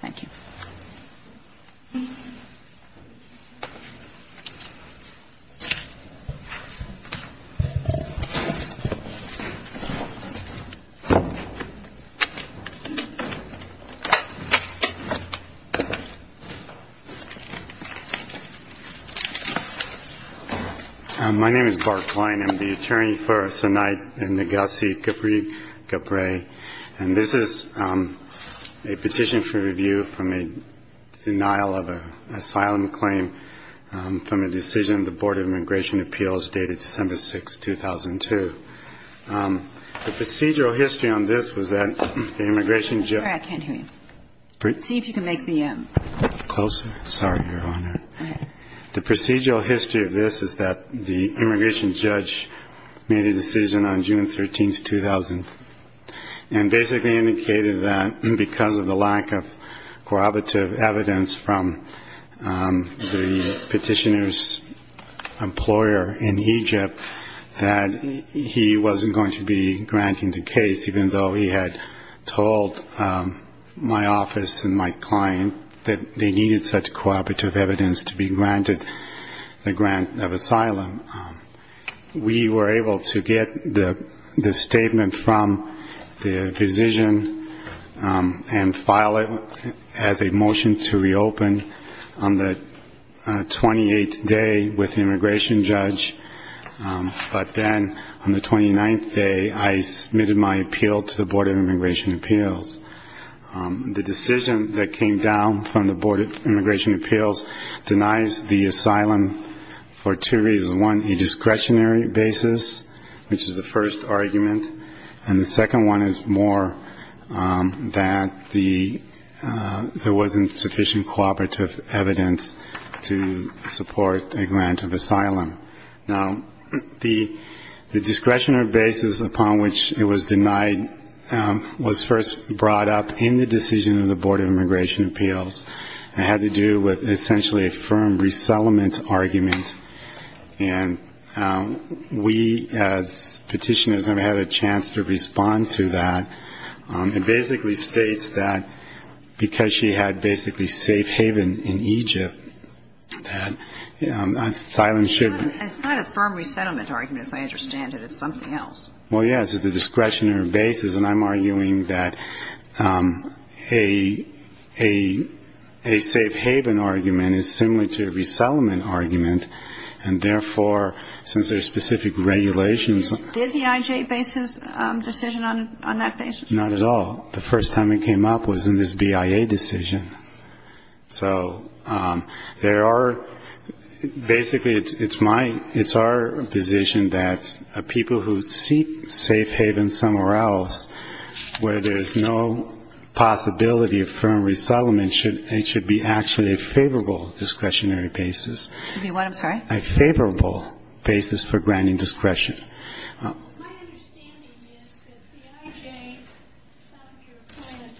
Thank you. My name is Bart Klein. I am the attorney for Sinait and Negassi-Gabre. And this is a petition for review from a denial of an asylum claim from a decision of the Board of Immigration Appeals dated December 6, 2002. The procedural history on this was that the immigration judge. I'm sorry, I can't hear you. See if you can make the M. Closer. Sorry, Your Honor. Go ahead. The procedural history of this is that the immigration judge made a decision on June 13, 2000, and basically indicated that because of the lack of cooperative evidence from the petitioner's employer in Egypt, that he wasn't going to be granting the case, even though he had told my office and my client that they needed such cooperative evidence to be granted the grant of asylum. We were able to get the statement from the physician and file it as a motion to reopen on the 28th day with the immigration judge. But then on the 29th day, I submitted my appeal to the Board of Immigration Appeals. The decision that came down from the Board of Immigration Appeals denies the asylum for two reasons. One, a discretionary basis, which is the first argument. And the second one is more that there wasn't sufficient cooperative evidence to support a grant of asylum. Now, the discretionary basis upon which it was denied was first brought up in the decision of the Board of Immigration Appeals. It had to do with essentially a firm resettlement argument. And we, as petitioners, never had a chance to respond to that. It basically states that because she had basically safe haven in Egypt, that asylum should be. It's not a firm resettlement argument, as I understand it. It's something else. Well, yes, it's a discretionary basis. And I'm arguing that a safe haven argument is similar to a resettlement argument. And therefore, since there are specific regulations. Did the IJ base his decision on that basis? Not at all. The first time it came up was in this BIA decision. So there are, basically, it's my, it's our position that people who seek safe haven somewhere else, where there's no possibility of firm resettlement, it should be actually a favorable discretionary basis. To be what, I'm sorry? A favorable basis for granting discretion. My understanding is that the IJ found your plan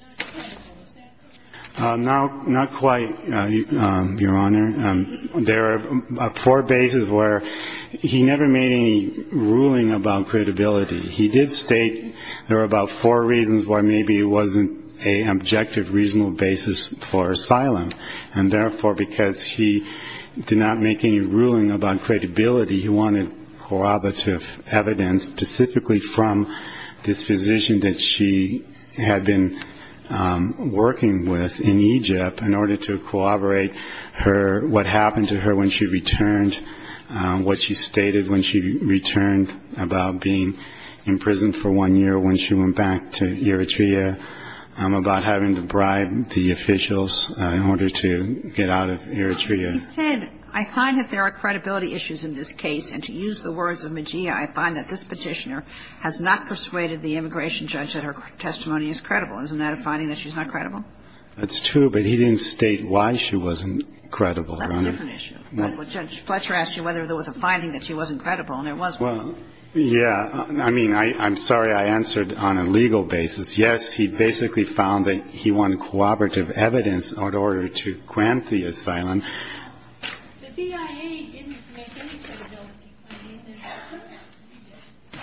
not credible. Is that correct? Not quite, Your Honor. There are four bases where he never made any ruling about credibility. He did state there were about four reasons why maybe it wasn't an objective, reasonable basis for asylum. And therefore, because he did not make any ruling about credibility, he wanted corroborative evidence specifically from this physician that she had been working with in Egypt in order to corroborate her, what happened to her when she returned, what she stated when she returned about being in prison for one year when she went back to Eritrea, about having to bribe the officials in order to get out of Eritrea. He said, I find that there are credibility issues in this case, and to use the words of Mejia, I find that this Petitioner has not persuaded the immigration judge that her testimony is credible. Isn't that a finding that she's not credible? That's true, but he didn't state why she wasn't credible. That's a different issue. Judge Fletcher asked you whether there was a finding that she wasn't credible, and there was one. Well, yeah. I mean, I'm sorry I answered on a legal basis. Yes, he basically found that he wanted corroborative evidence in order to grant the asylum. The CIA didn't make any credibility finding. They referred it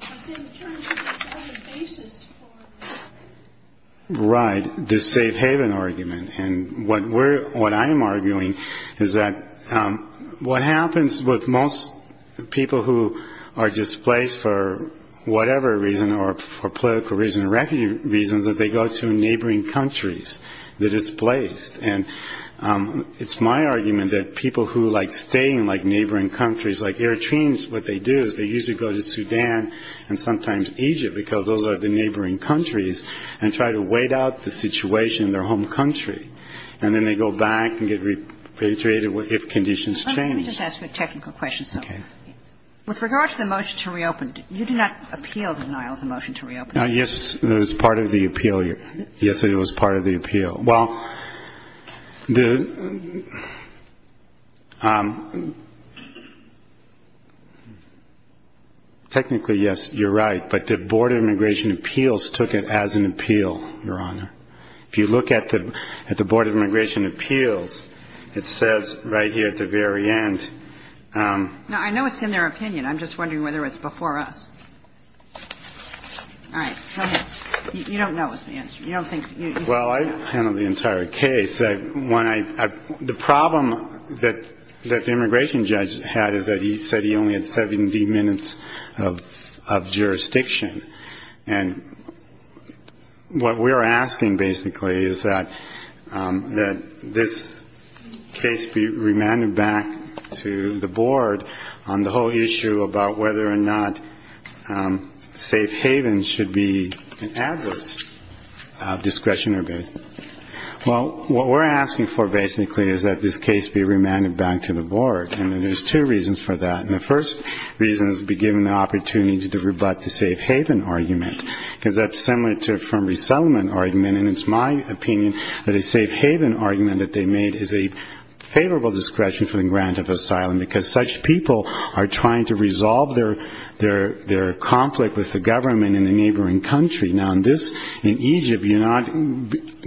to Mejia. He didn't turn to the basis for that. Right, the safe haven argument. And what I am arguing is that what happens with most people who are displaced for whatever reason or for political reason or refugee reasons, that they go to neighboring countries. They're displaced. And it's my argument that people who like staying in, like, neighboring countries like Eritrea, what they do is they usually go to Sudan and sometimes Egypt, because those are the neighboring countries, and try to wait out the situation in their home country, and then they go back and get repatriated if conditions change. Let me just ask you a technical question. Okay. With regard to the motion to reopen, you did not appeal denial of the motion to reopen. Yes, it was part of the appeal. Yes, it was part of the appeal. Well, technically, yes, you're right. But the Board of Immigration Appeals took it as an appeal, Your Honor. If you look at the Board of Immigration Appeals, it says right here at the very end No, I know it's in their opinion. I'm just wondering whether it's before us. All right. Go ahead. You don't know what's the answer. You don't think you know. Well, I handled the entire case. The problem that the immigration judge had is that he said he only had 70 minutes of jurisdiction. And what we're asking, basically, is that this case be remanded back to the board on the whole issue about whether or not safe havens should be an adverse discretionary bid. Well, what we're asking for, basically, is that this case be remanded back to the board, and there's two reasons for that. And the first reason is to be given the opportunity to rebut the safe haven argument, because that's similar to a firm resettlement argument. And it's my opinion that a safe haven argument that they made is a favorable discretion for the grant of asylum, because such people are trying to resolve their conflict with the government in a neighboring country. Now, in Egypt, you're not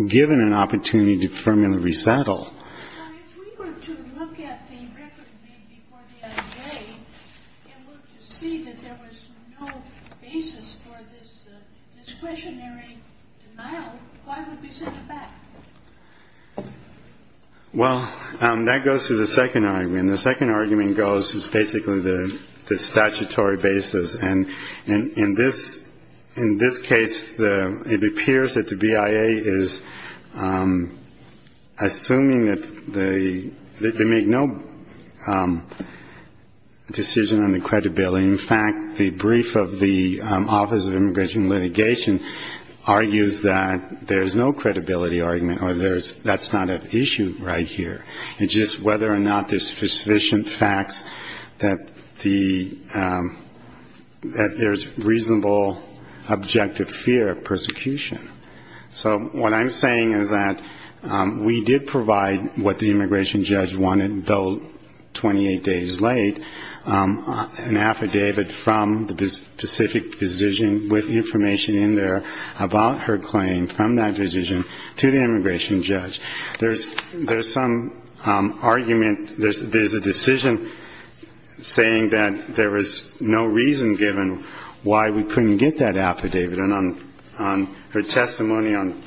given an opportunity to firmly resettle. Now, if we were to look at the record made before the IA, and we could see that there was no basis for this discretionary denial, why would we send it back? Well, that goes to the second argument. And the second argument goes to basically the statutory basis. And in this case, it appears that the BIA is assuming that they make no decision on the credibility. In fact, the brief of the Office of Immigration Litigation argues that there's no credibility argument, or that's not at issue right here. It's just whether or not there's sufficient facts that there's reasonable objective fear of persecution. So what I'm saying is that we did provide what the immigration judge wanted, though 28 days late, an affidavit from the specific position with information in there about her claim from that position to the immigration judge. There's some argument, there's a decision saying that there was no reason given why we couldn't get that affidavit. And on her testimony on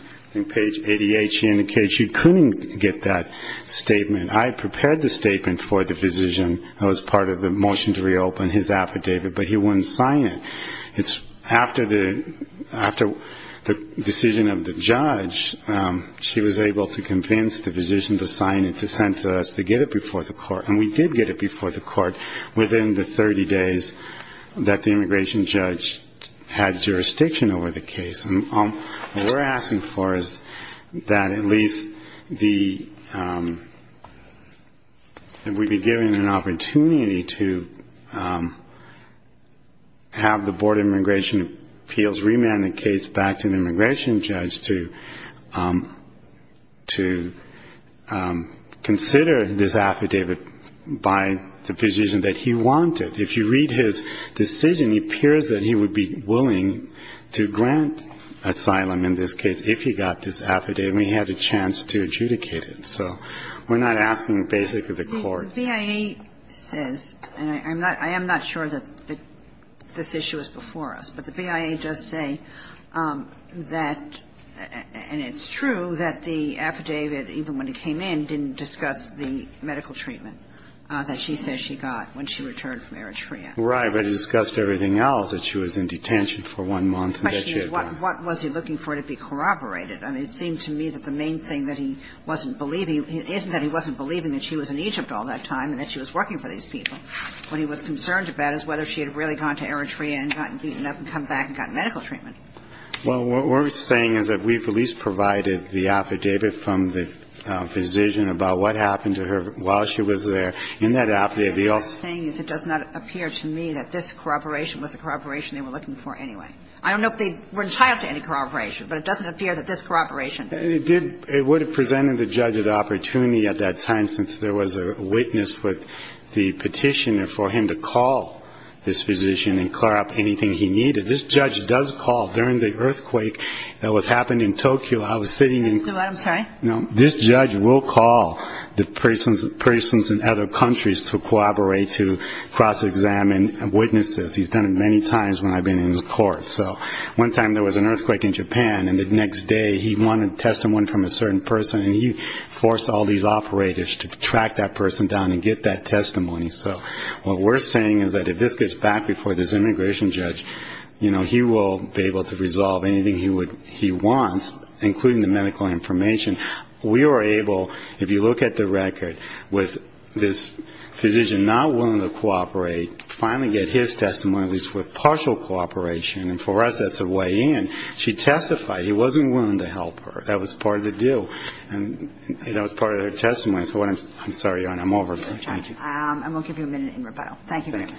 page 88, she indicated she couldn't get that statement. I prepared the statement for the physician that was part of the motion to reopen his affidavit, but he wouldn't sign it. After the decision of the judge, she was able to get that affidavit. And we convinced the physician to sign it, to send it to us, to get it before the court. And we did get it before the court within the 30 days that the immigration judge had jurisdiction over the case. And what we're asking for is that at least the we'd be given an opportunity to have the Board of Immigration Appeals remand the case back to the immigration judge to consider this affidavit by the physician that he wanted. If you read his decision, it appears that he would be willing to grant asylum in this case if he got this affidavit and he had a chance to adjudicate it. So we're not asking basically the court. The BIA says, and I am not sure that this issue is before us, but the BIA does say that and it's true that the affidavit, even when it came in, didn't discuss the medical treatment that she says she got when she returned from Eritrea. Right. But it discussed everything else, that she was in detention for one month and that she had done. What was he looking for to be corroborated? I mean, it seemed to me that the main thing that he wasn't believing is that he wasn't believing that she was in Egypt all that time. And that she was working for these people. What he was concerned about is whether she had really gone to Eritrea and gotten beaten up and come back and gotten medical treatment. Well, what we're saying is that we've at least provided the affidavit from the physician about what happened to her while she was there. In that affidavit, he also ---- What I'm saying is it does not appear to me that this corroboration was the corroboration they were looking for anyway. I don't know if they were entitled to any corroboration, but it doesn't appear that this corroboration ---- It would have presented the judge with the opportunity at that time since there was a witness with the petitioner for him to call this physician and clear up anything he needed. This judge does call during the earthquake that was happening in Tokyo. I was sitting in ---- I'm sorry? No. This judge will call the persons in other countries to corroborate, to cross-examine witnesses. He's done it many times when I've been in his court. So one time there was an earthquake in Japan, and the next day he wanted testimony from a certain person, and he forced all these operators to track that person down and get that testimony. So what we're saying is that if this gets back before this immigration judge, you know, he will be able to resolve anything he wants, including the medical information. We were able, if you look at the record, with this physician not willing to cooperate, finally get his testimony, at least with partial cooperation, and for us that's a way in. She testified he wasn't willing to help her. That was part of the deal, and that was part of her testimony. So what I'm ---- I'm sorry, Your Honor. I'm over. Thank you. I will give you a minute in rebuttal. Thank you very much.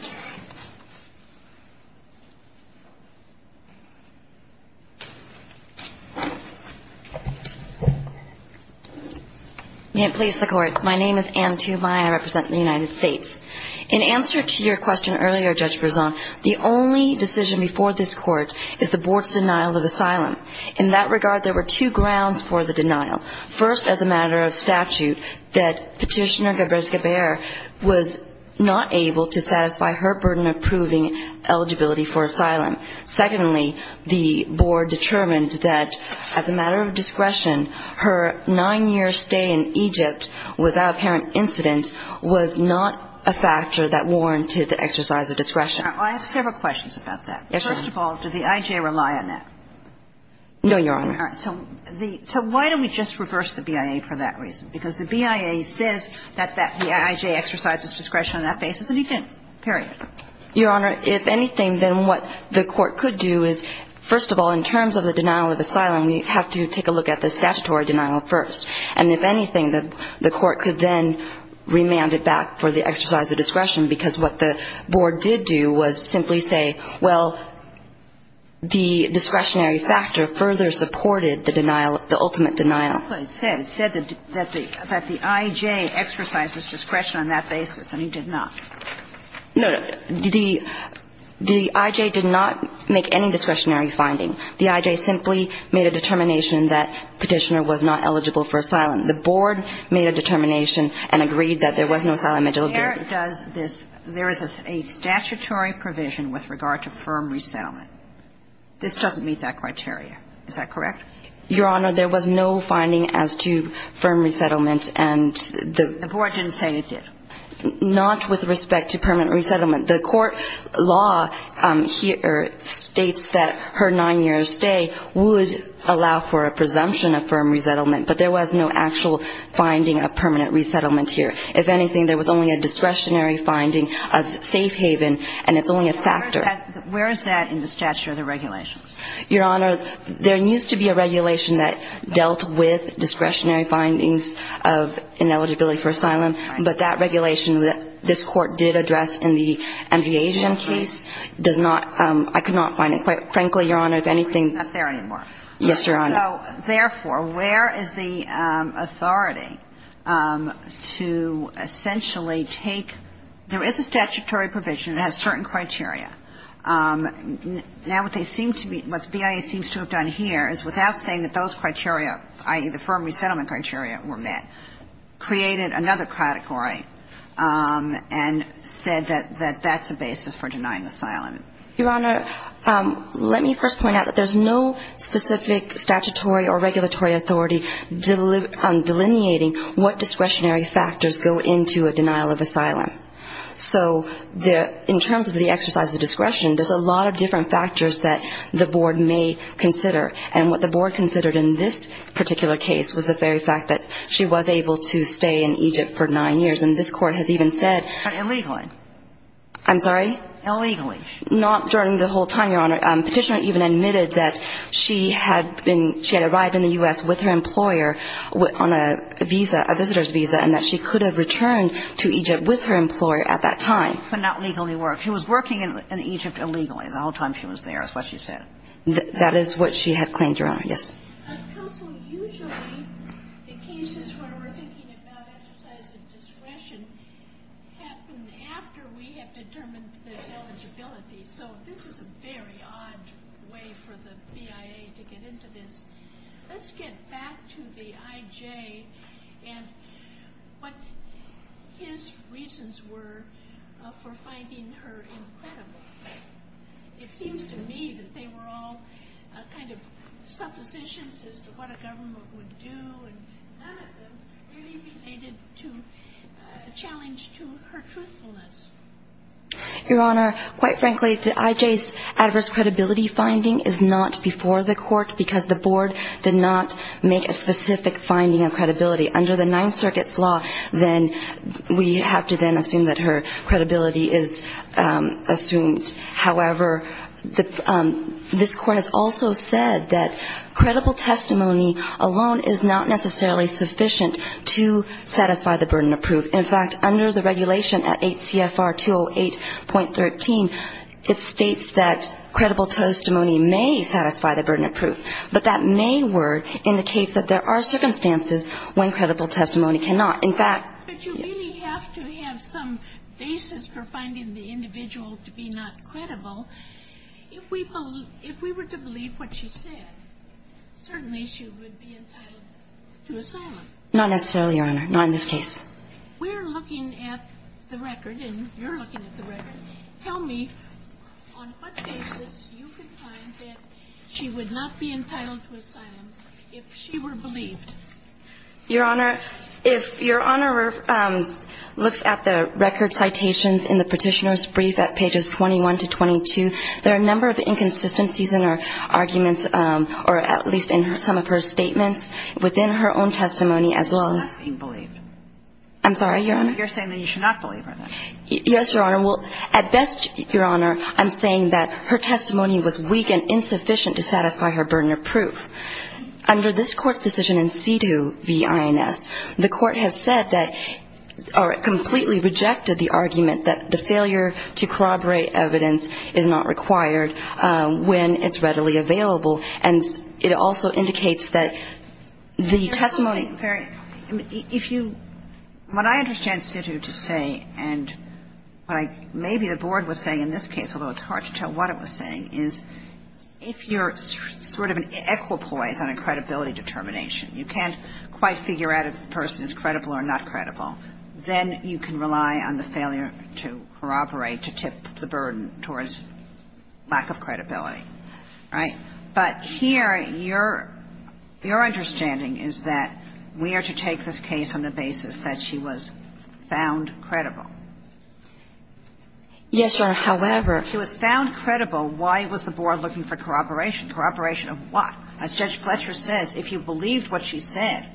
May it please the Court. My name is Anne Tumai. I represent the United States. In answer to your question earlier, Judge Berzon, the only decision before this Court is the Board's denial of asylum. In that regard, there were two grounds for the denial. First, as a matter of statute, that Petitioner Gebrezgeber was not able to satisfy her burden of proving eligibility for asylum. Secondly, the Board determined that, as a matter of discretion, her nine-year stay in Egypt without apparent incident was not a factor that warranted the exercise of discretion. I have several questions about that. Yes, Your Honor. First of all, did the I.J. rely on that? No, Your Honor. All right. So the ---- so why don't we just reverse the BIA for that reason? Because the BIA says that the I.J. exercised its discretion on that basis, and he didn't. Period. Your Honor, if anything, then what the Court could do is, first of all, in terms of the denial of asylum, we have to take a look at the statutory denial first. And if anything, the Court could then remand it back for the exercise of discretion, because what the Board did do was simply say, well, the discretionary factor further supported the denial, the ultimate denial. It said that the I.J. exercised its discretion on that basis, and he did not. No, no. The I.J. did not make any discretionary finding. The I.J. simply made a determination that Petitioner was not eligible for asylum. The Board made a determination and agreed that there was no asylum eligibility. Where does this ---- there is a statutory provision with regard to firm resettlement. This doesn't meet that criteria. Is that correct? Your Honor, there was no finding as to firm resettlement, and the ---- The Board didn't say it did. Not with respect to permanent resettlement. The court law here states that her 9-year stay would allow for a presumption of firm resettlement, but there was no actual finding of permanent resettlement here. If anything, there was only a discretionary finding of safe haven, and it's only a factor. Where is that in the statute or the regulations? Your Honor, there used to be a regulation that dealt with discretionary findings of ineligibility for asylum. Right. But that regulation that this Court did address in the Andrea Asian case does not ---- I could not find it. Quite frankly, Your Honor, if anything ---- It's not there anymore. Yes, Your Honor. So, therefore, where is the authority to essentially take ---- there is a statutory provision. It has certain criteria. Now, what they seem to be ---- what the BIA seems to have done here is without saying that those criteria, i.e., the firm resettlement criteria were met, created another category and said that that's a basis for denying asylum. Your Honor, let me first point out that there's no specific statutory or regulatory authority delineating what discretionary factors go into a denial of asylum. So in terms of the exercise of discretion, there's a lot of different factors that the Board may consider. And what the Board considered in this particular case was the very fact that she was able to stay in Egypt for nine years. And this Court has even said ---- But illegally. I'm sorry? Illegally. Not during the whole time, Your Honor. Petitioner even admitted that she had been ---- she had arrived in the U.S. with her employer on a visa, a visitor's visa, and that she could have returned to Egypt with her employer at that time. But not legally worked. She was working in Egypt illegally the whole time she was there is what she said. That is what she had claimed, Your Honor. Yes. Counsel, usually the cases where we're thinking about exercise of discretion happen after we have determined this eligibility. So this is a very odd way for the BIA to get into this. Let's get back to the IJ and what his reasons were for finding her incredible. It seems to me that they were all kind of suppositions as to what a government would do, and none of them really related to a challenge to her truthfulness. Your Honor, quite frankly, the IJ's adverse credibility finding is not before the Court because the Board did not make a specific finding of credibility. Under the Ninth Circuit's law, then we have to then assume that her credibility is assumed. However, this Court has also said that credible testimony alone is not necessarily sufficient to satisfy the burden of proof. In fact, under the regulation at 8 CFR 208.13, it states that credible testimony may satisfy the burden of proof, but that may work in the case that there are circumstances when credible testimony cannot. But you really have to have some basis for finding the individual to be not credible. If we were to believe what she said, certainly she would be entitled to asylum. Not necessarily, Your Honor. Not in this case. We're looking at the record, and you're looking at the record. Tell me on what basis you could find that she would not be entitled to asylum if she were believed. Your Honor, if Your Honor looks at the record citations in the Petitioner's brief at pages 21 to 22, there are a number of inconsistencies in her arguments or at least in some of her statements within her own testimony as well as being believed. I'm sorry, Your Honor? You're saying that you should not believe her, then? Yes, Your Honor. Well, at best, Your Honor, I'm saying that her testimony was weak and insufficient to satisfy her burden of proof. Under this Court's decision in Citu v. INS, the Court has said that or completely rejected the argument that the failure to corroborate evidence is not required when it's readily available. And it also indicates that the testimony — Your Honor, I'm sorry. If you — what I understand Citu to say and what maybe the Board was saying in this is if you're sort of an equipoise on a credibility determination, you can't quite figure out if the person is credible or not credible, then you can rely on the failure to corroborate to tip the burden towards lack of credibility, right? But here, your understanding is that we are to take this case on the basis that she was found credible. Yes, Your Honor. However — If she was found credible, why was the Board looking for corroboration? Corroboration of what? As Judge Fletcher says, if you believed what she said,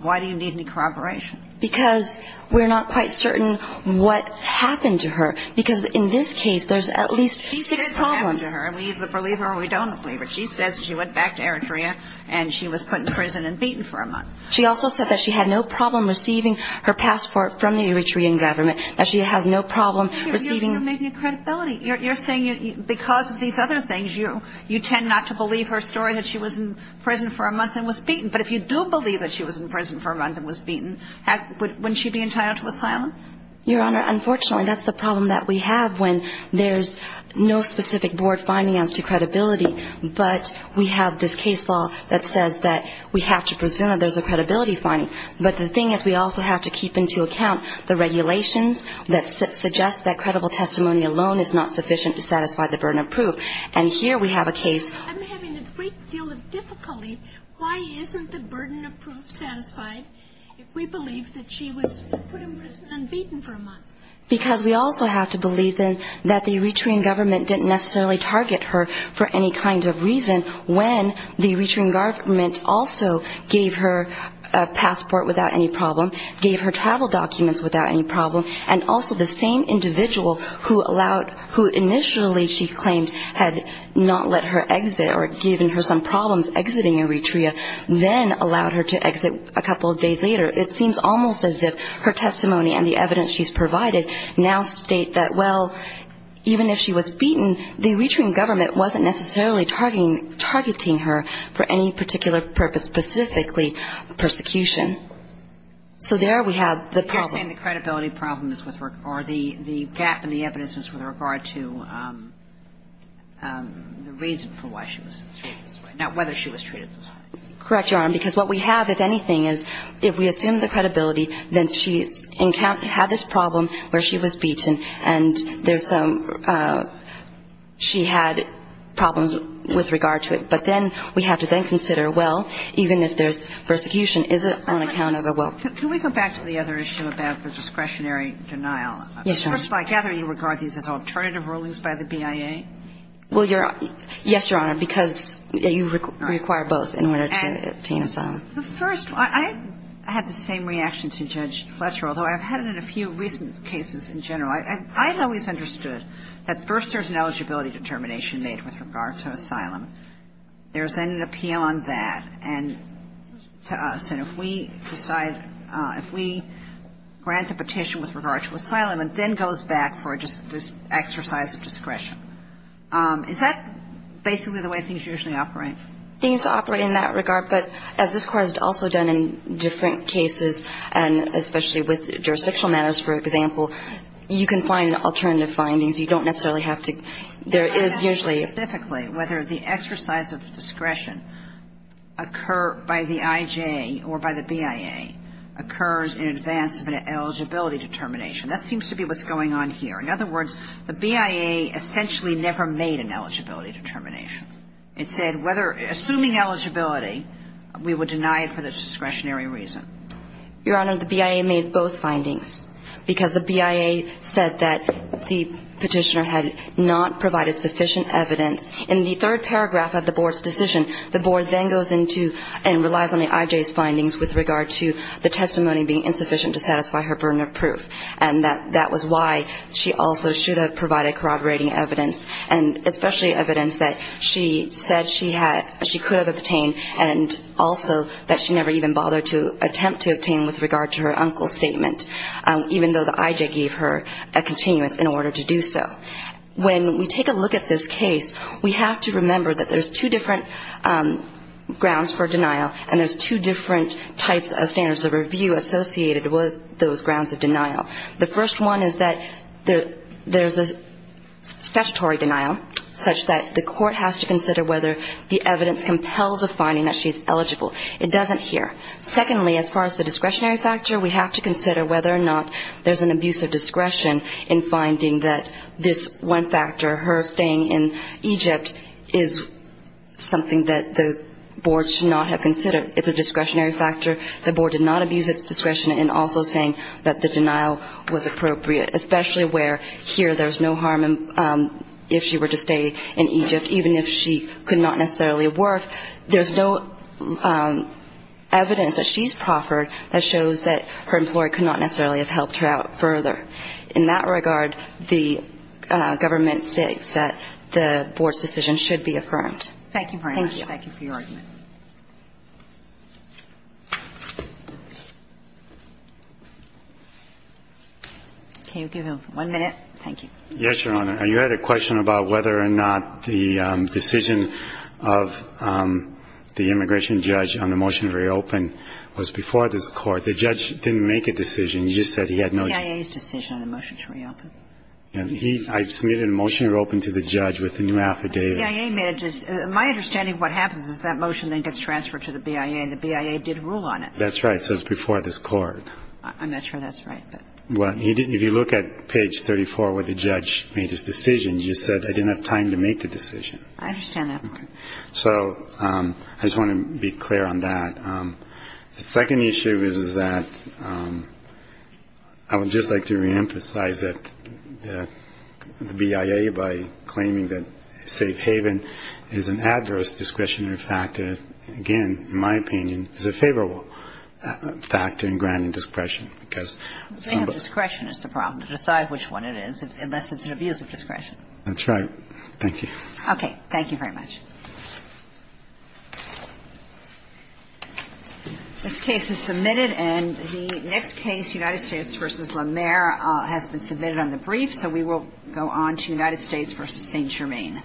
why do you need any corroboration? Because we're not quite certain what happened to her. Because in this case, there's at least six problems. She said what happened to her, and we either believe her or we don't believe her. She says she went back to Eritrea and she was put in prison and beaten for a month. She also said that she had no problem receiving her passport from the Eritrean government, that she has no problem receiving — You're making a credibility. You're saying because of these other things, you tend not to believe her story that she was in prison for a month and was beaten. But if you do believe that she was in prison for a month and was beaten, wouldn't she be entitled to asylum? Your Honor, unfortunately, that's the problem that we have when there's no specific Board finding as to credibility, but we have this case law that says that we have to presume that there's a credibility finding. But the thing is, we also have to keep into account the regulations that suggest that credible testimony alone is not sufficient to satisfy the burden of proof. And here we have a case — I'm having a great deal of difficulty. Why isn't the burden of proof satisfied if we believe that she was put in prison and beaten for a month? Because we also have to believe, then, that the Eritrean government didn't necessarily target her for any kind of reason when the Eritrean government also gave her a passport without any problem, gave her travel documents without any problem, gave her a passport without any problem, and then gave her the Eritrean And when we look at the testimony of the individual who allowed — who initially she claimed had not let her exit or given her some problems exiting Eritrea, then allowed her to exit a couple of days later, it seems almost as if her testimony and the evidence she's provided now state that, well, even if she was beaten, the gap in the evidence is with regard to the reason for why she was treated this way, not whether she was treated this way. Correct, Your Honor, because what we have, if anything, is if we assume the credibility, then she had this problem where she was beaten and there's some — she had problems with regard to it. But then we have to then consider, well, even if there's persecution, is it on account of a will? Can we go back to the other issue about the discretionary denial? Well, first of all, I gather you regard these as alternative rulings by the BIA? Well, Your — yes, Your Honor, because you require both in order to obtain asylum. The first — I had the same reaction to Judge Fletcher, although I've had it in a few recent cases in general. I've always understood that first there's an eligibility determination made with regard to asylum. There's then an appeal on that, and to us. And if we decide — if we grant a petition with regard to asylum and then goes back for just this exercise of discretion, is that basically the way things usually operate? Things operate in that regard, but as this Court has also done in different cases, and especially with jurisdictional matters, for example, you can find alternative findings. You don't necessarily have to — there is usually — I don't know specifically whether the exercise of discretion occur by the IJ or by the BIA occurs in advance of an eligibility determination. That seems to be what's going on here. In other words, the BIA essentially never made an eligibility determination. It said whether — assuming eligibility, we would deny it for the discretionary reason. Your Honor, the BIA made both findings, because the BIA said that the petitioner had not provided sufficient evidence. In the third paragraph of the Board's decision, the Board then goes into and relies on the IJ's findings with regard to the testimony being insufficient to satisfy her burden of proof. And that was why she also should have provided corroborating evidence, and especially evidence that she said she had — she could have obtained, and also that she never even bothered to attempt to obtain with regard to her uncle's statement, even though the IJ gave her a continuance in order to do so. When we take a look at this case, we have to remember that there's two different grounds for denial, and there's two different types of standards of review associated with those grounds of denial. The first one is that there's a statutory denial, such that the court has to consider whether the evidence compels a finding that she's eligible. It doesn't here. Secondly, as far as the discretionary factor, we have to consider whether or not there's an abuse of discretion in finding that this one factor, her staying in Egypt, is something that the Board should not have considered. It's a discretionary factor. The Board did not abuse its discretion in also saying that the denial was appropriate, especially where here there's no harm if she were to stay in Egypt, even if she could not necessarily work. There's no evidence that she's proffered that shows that her employee could not necessarily have helped her out further. In that regard, the government states that the Board's decision should be affirmed. Thank you very much. Thank you for your argument. Can you give him one minute? Thank you. Yes, Your Honor. You had a question about whether or not the decision of the immigration judge on the motion to reopen was before this Court. The judge didn't make a decision. He just said he had no idea. The BIA's decision on the motion to reopen. I submitted a motion to reopen to the judge with the new affidavit. The BIA made a decision. My understanding of what happens is that motion then gets transferred to the BIA, and the BIA did rule on it. That's right. So it's before this Court. I'm not sure that's right. Well, if you look at page 34 where the judge made his decision, he just said, I didn't have time to make the decision. I understand that part. So I just want to be clear on that. The second issue is that I would just like to reemphasize that the BIA, by claiming that safe haven is an adverse discretionary factor, again, in my opinion, is a favorable factor in granting discretion, because some of the ---- Discretion is the problem. Decide which one it is, unless it's an abuse of discretion. That's right. Thank you. Okay. Thank you very much. This case is submitted, and the next case, United States v. La Mer, has been submitted on the brief, so we will go on to United States v. St. Germain. Thank you.